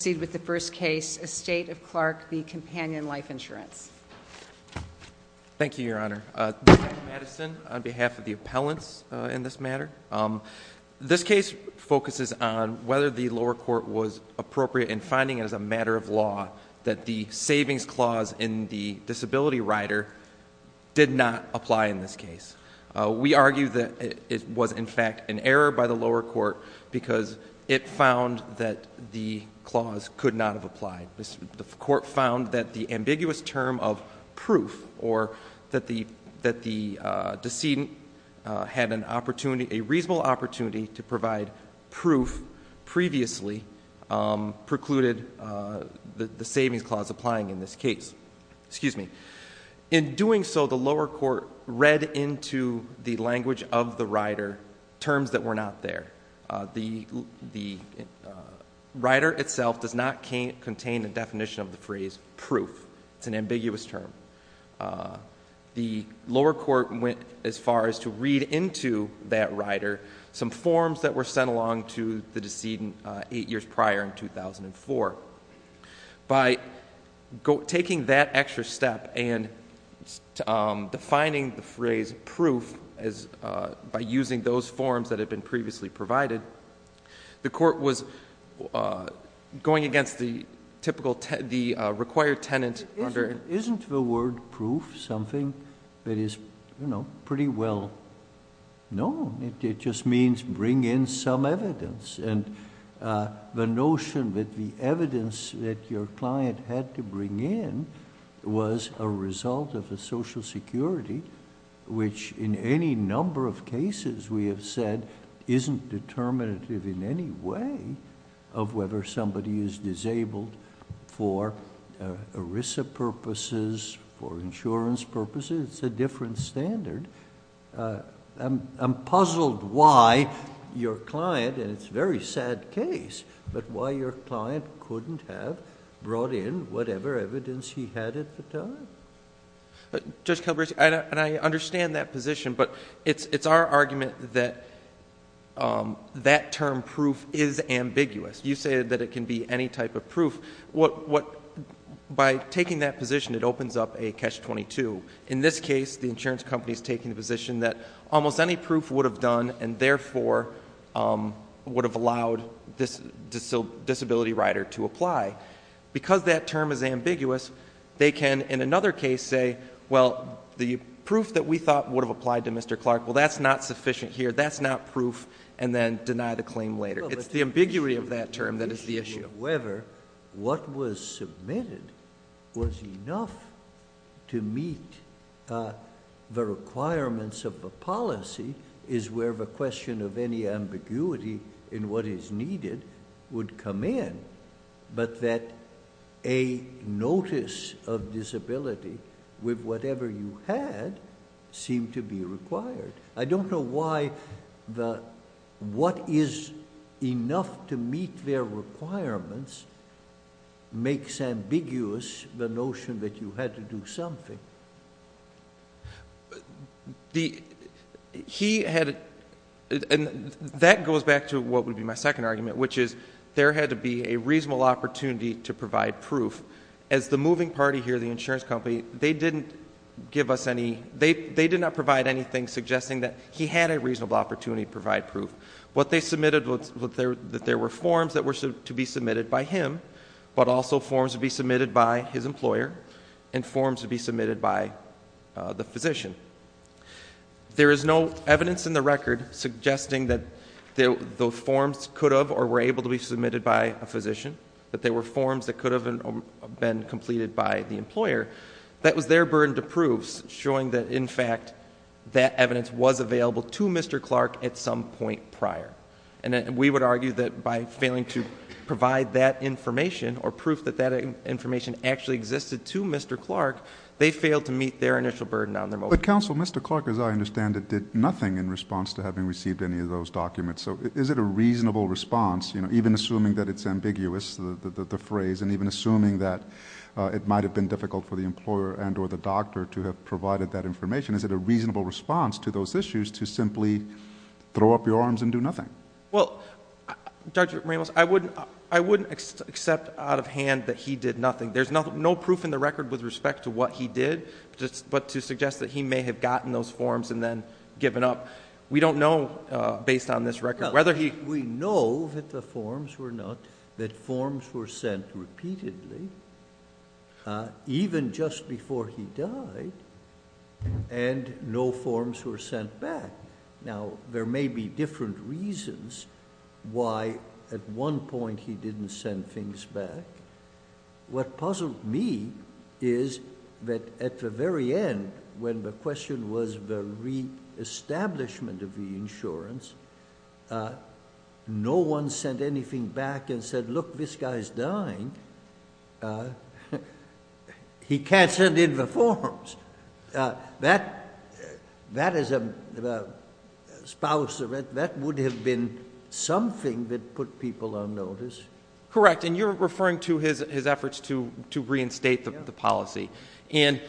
Thank you, Your Honor. This is Mike Madison on behalf of the appellants in this matter. This case focuses on whether the lower court was appropriate in finding as a matter of law that the savings clause in the disability rider did not apply in this case. We argue that it was in fact an error by the lower court because it found that the clause could not have applied. The court found that the ambiguous term of proof or that the decedent had an opportunity, a reasonable opportunity to provide proof previously precluded the savings clause applying in this case. In doing so, the lower court read into the language of the rider terms that were not there. The rider itself does not contain a definition of the phrase proof. It's an ambiguous term. The lower court went as far as to read into that rider some forms that were sent along to the decedent eight years prior in 2004. By taking that extra step and defining the phrase proof as an ambiguous term, the lower court was going against the required tenant under... JUSTICE SCALIA Isn't the word proof something that is pretty well known? It just means bring in some evidence. The notion that the evidence that your client had to bring in was a result of the Social Security, which in any number of cases we have said isn't determinative in any way of whether somebody is disabled for ERISA purposes, for insurance purposes. It's a different standard. I'm puzzled why your client, and it's a very different standard, would not bring in whatever evidence he had at the time. CHIEF JUSTICE ROBERTS Justice Calabresi, I understand that position, but it's our argument that that term proof is ambiguous. You say that it can be any type of proof. By taking that position, it opens up a catch-22. In this case, the insurance company is taking the position that almost any proof would have done and therefore would have allowed this disability rider to apply. Because that term is ambiguous, they can in another case say, well, the proof that we thought would have applied to Mr. Clark, well, that's not sufficient here. That's not proof, and then deny the claim later. It's the ambiguity of that term that is the issue. JUSTICE SCALIA However, what was submitted was enough to meet the requirements of the policy is where the question of any ambiguity in what is needed would come in, but that a notice of disability with whatever you had seemed to be required. I don't know why the what is enough to meet their requirements makes ambiguous the notion that you had to do something. MR. WHITE That goes back to what would be my second argument, which is there had to be a reasonable opportunity to provide proof. As the moving party here, the insurance company, they did not provide anything suggesting that he had a reasonable opportunity to provide proof. What they submitted was that there were forms that were to be submitted by the physician. There is no evidence in the record suggesting that the forms could have or were able to be submitted by a physician, that there were forms that could have been completed by the employer. That was their burden to prove, showing that, in fact, that evidence was available to Mr. Clark at some point prior. And we would argue that by failing to provide that information or proof that that information actually existed to Mr. Clark, they failed to meet their initial burden on their motion. THE COURT But, Counsel, Mr. Clark, as I understand it, did nothing in response to having received any of those documents. So is it a reasonable response, even assuming that it's ambiguous, the phrase, and even assuming that it might have been difficult for the employer and or the doctor to have provided that information, is it a reasonable response to those issues to simply throw up your arms and do nothing? MR. CLARK Well, Dr. Ramos, I wouldn't accept out of hand that he did nothing. There's no proof in the record with respect to what he did, but to suggest that he may have gotten those forms and then given up, we don't know, based on this record, whether he JUSTICE SOTOMAYOR We know that the forms were not, that forms were sent repeatedly, even just before he died, and no forms were sent back. Now, there may be different reasons why at one point he didn't send things back. What puzzled me is that at the very end, when the question was the reestablishment of the insurance, no one sent anything back and said, look, this guy's dying. He can't send in the forms. That, as a spouse, that would have been something that put people on notice. MR. RAMOS Correct. And you're referring to his efforts to reinstate the policy. And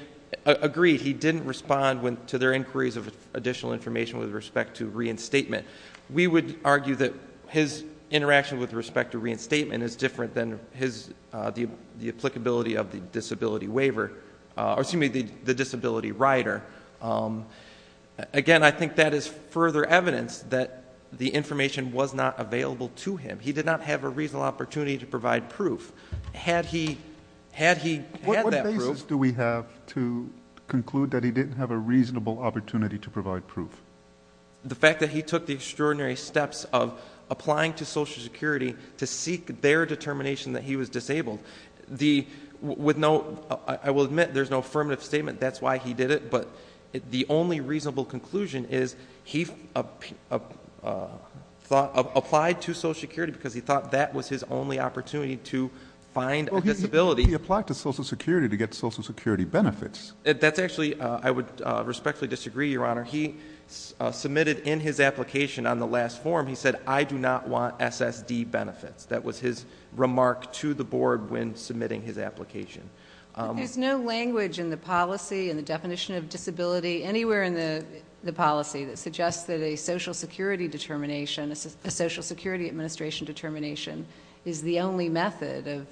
agreed, he didn't respond to their inquiries of additional information with respect to reinstatement. We would argue that his interaction with respect to reinstatement is different than the applicability of the disability waiver, or excuse me, the disability rider. Again, I think that is further evidence that the information was not available to him. He did not have a reasonable opportunity to provide proof. Had he had that proof JUSTICE SCALIA What basis do we have to conclude that he didn't have a reasonable opportunity to provide proof? MR. RAMOS The fact that he took the extraordinary steps of applying to Social Security to seek their determination that he was disabled, I will admit there's no affirmative statement that's why he did it, but the only reasonable conclusion is he applied to Social Security because he thought that was his only opportunity to find a disability. JUSTICE SCALIA He applied to Social Security to get Social Security benefits. MR. RAMOS That's actually, I would respectfully disagree, Your Honor. He submitted in his application on the last forum, he said, I do not want SSD benefits. That was his remark to the Board when submitting his application. JUSTICE SCALIA There's no language in the policy, in the definition of disability, anywhere in the policy that suggests that a Social Security determination, a Social Security Administration determination is the only method of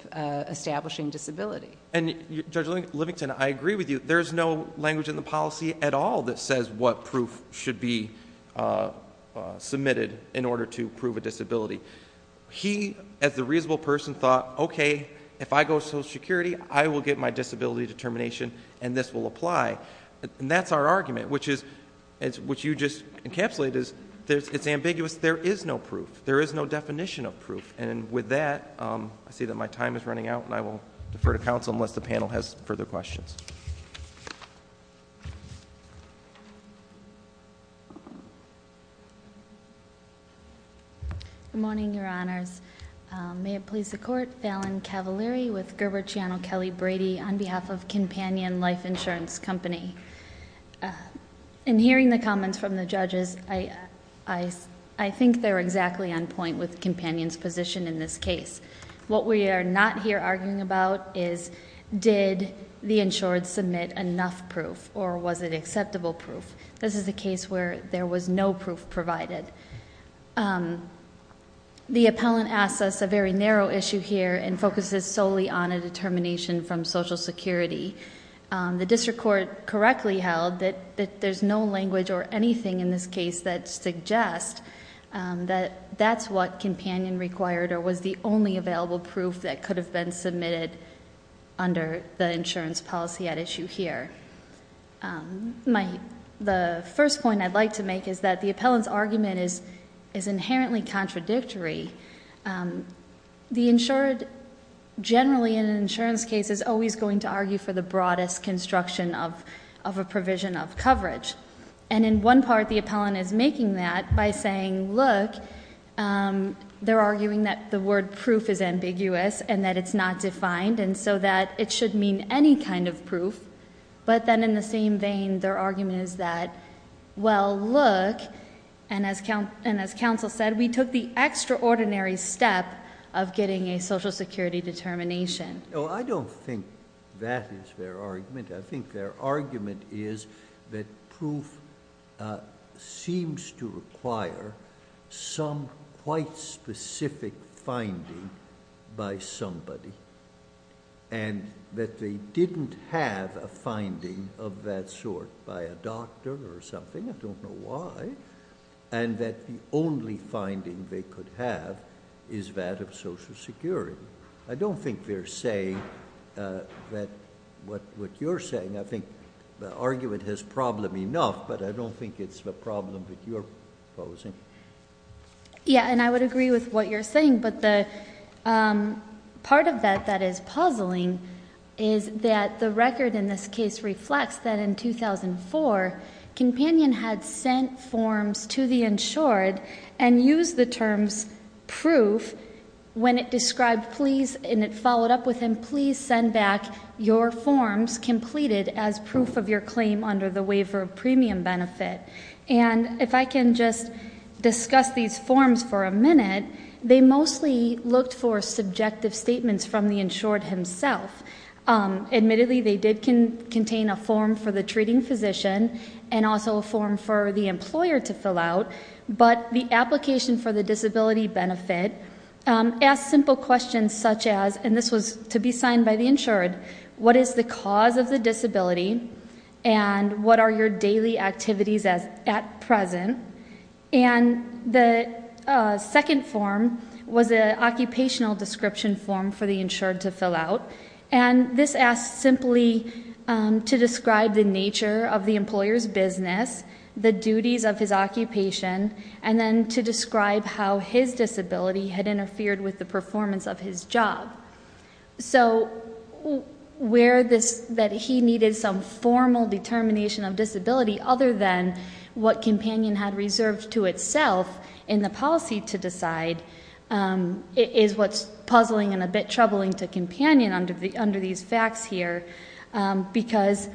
establishing disability. MR. RAMOS Judge Livington, I agree with you. There's no language in the policy at all that says what proof should be submitted in order to prove a disability. He, as the reasonable person, thought, okay, if I go to Social Security, I will get my disability determination and this will apply. And that's our argument, which is, which you just encapsulated, is it's ambiguous. There is no proof. There is no definition of proof. And with that, I see that my time is running out and I will defer to counsel unless the panel has further questions. MS. CAVALERI Good morning, Your Honors. May it please the Court, Valen Cavaleri with Gerber Chiano Kelly Brady on behalf of Companion Life Insurance Company. In hearing the comments from the judges, I think they're exactly on point with this. Did the insured submit enough proof or was it acceptable proof? This is a case where there was no proof provided. The appellant asks us a very narrow issue here and focuses solely on a determination from Social Security. The district court correctly held that there's no language or anything in this case that suggests that that's what Companion required or was the only available proof that could have been submitted under the insurance policy at issue here. The first point I'd like to make is that the appellant's argument is inherently contradictory. The insured generally in an insurance case is always going to argue for the broadest construction of a provision of coverage. And in one part, the appellant is making that by saying, look, they're arguing that the word proof is ambiguous and that it's not defined and so that it should mean any kind of proof. But then in the same vein, their argument is that, well, look, and as counsel said, we took the extraordinary step of getting a Social Security determination. JUSTICE SCALIA I don't think that is their argument. I think their argument is that proof seems to require some quite specific finding by somebody and that they didn't have a finding of that sort by a doctor or something. I don't know why. And that the only finding they could have is that of Social Security. I don't think they're saying that what you're saying. I think the argument has problem enough, but I don't think it's the problem that you're posing. MS. MOSS Yeah, and I would agree with what you're saying. But the part of that that is puzzling is that the record in this case reflects that in 2004, companion had sent forms to the insured and used the terms proof when it described please and it followed up with him, please send back your forms completed as proof of your claim under the waiver of premium benefit. And if I can just discuss these forms for a minute, they mostly looked for subjective statements from the insured himself. Admittedly they did contain a form for the treating physician and also a form for the employer to fill out, but the application for the disability benefit asked simple questions such as, and this was to be signed by the insured, what is the cause of the disability and what are your daily activities at present? And the second form was an occupational description form for the insured to fill out. And this asked simply to describe the nature of the employer's business, the duties of his occupation and then to describe how his disability had interfered with the performance of his job. So where this, that he needed some formal determination of disability other than what companion had reserved to itself in the policy to decide is what's puzzling and a bit troubling to companion under these facts here. Because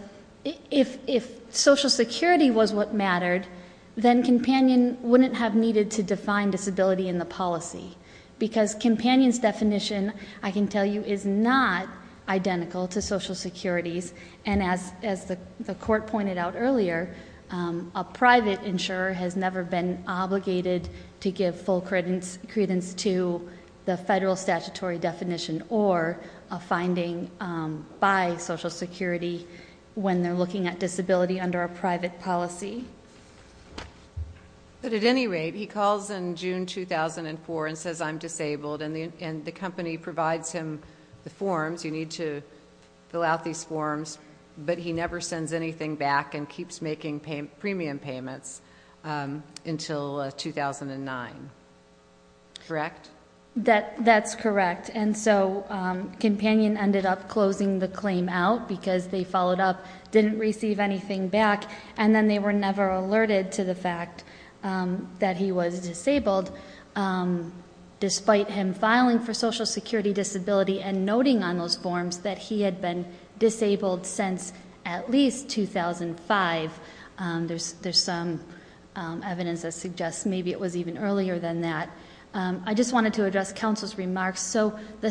if social security was what mattered, then companion wouldn't have needed to define disability in the policy. Because companion's definition, I can tell you, is not identical to social security's and as the court pointed out earlier, a private insurer has never been obligated to give full credence to the federal statutory definition or a finding by social security when they're looking at disability under a private policy. But at any rate, he calls in June 2004 and says, I'm disabled. And the company provides him the forms. You need to fill out these forms. But he never sends anything back and keeps making premium payments until 2009. Correct? That's correct. And so companion ended up closing the claim out because they followed up, didn't receive anything back, and then they were never alerted to the fact that he was disabled despite him filing for social security disability and noting on those forms that he had been disabled since at least 2005. There's some evidence that suggests maybe it was even earlier than that. I just wanted to address counsel's remarks. So the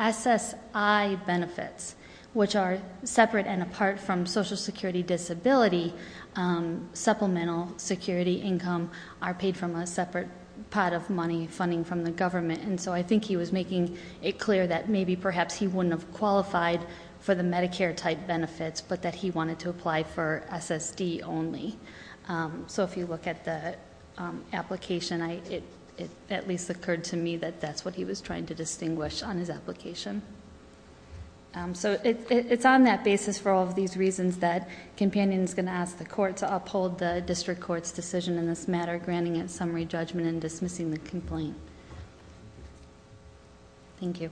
SSI benefits, which are separate and apart from social security disability, supplemental security income are paid from a separate pot of money funding from the government. And so I think he was making it clear that maybe perhaps he wouldn't have qualified for the Medicare type benefits, but that he wanted to apply for SSD only. So if you look at the application, it at least occurred to me that that's what he was trying to distinguish on his application. So it's on that basis for all of these reasons that companion is going to ask the court to uphold the district court's decision in this matter, granting it summary judgment and dismissing the complaint. Thank you.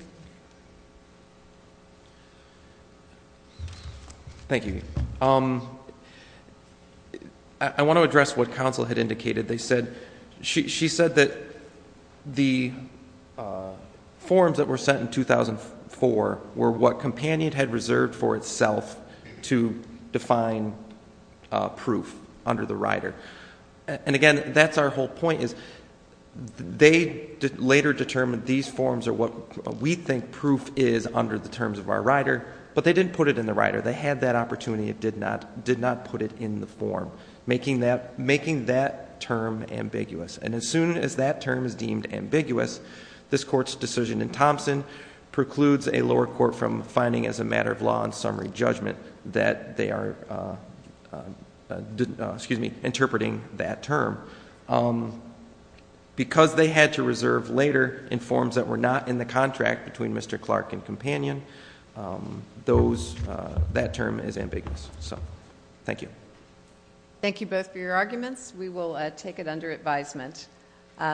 Thank you. I want to address what counsel had indicated. She said that the forms that were sent in 2004 were what companion had reserved for itself to define proof under the rider. And again, that's our whole point is they later determined these forms are what we think proof is under the terms of our rider, but they didn't put it in the rider. They had that opportunity. It did not put it in the form, making that term ambiguous. And as soon as that term is deemed ambiguous, this court's decision in Thompson precludes a lower court from finding as a matter of law and summary judgment that they are interpreting that term. Because they had to reserve later in forms that were not in the contract between Mr. Clark and companion, that term is ambiguous. So thank you. Thank you both for your arguments. We will take it under advisement.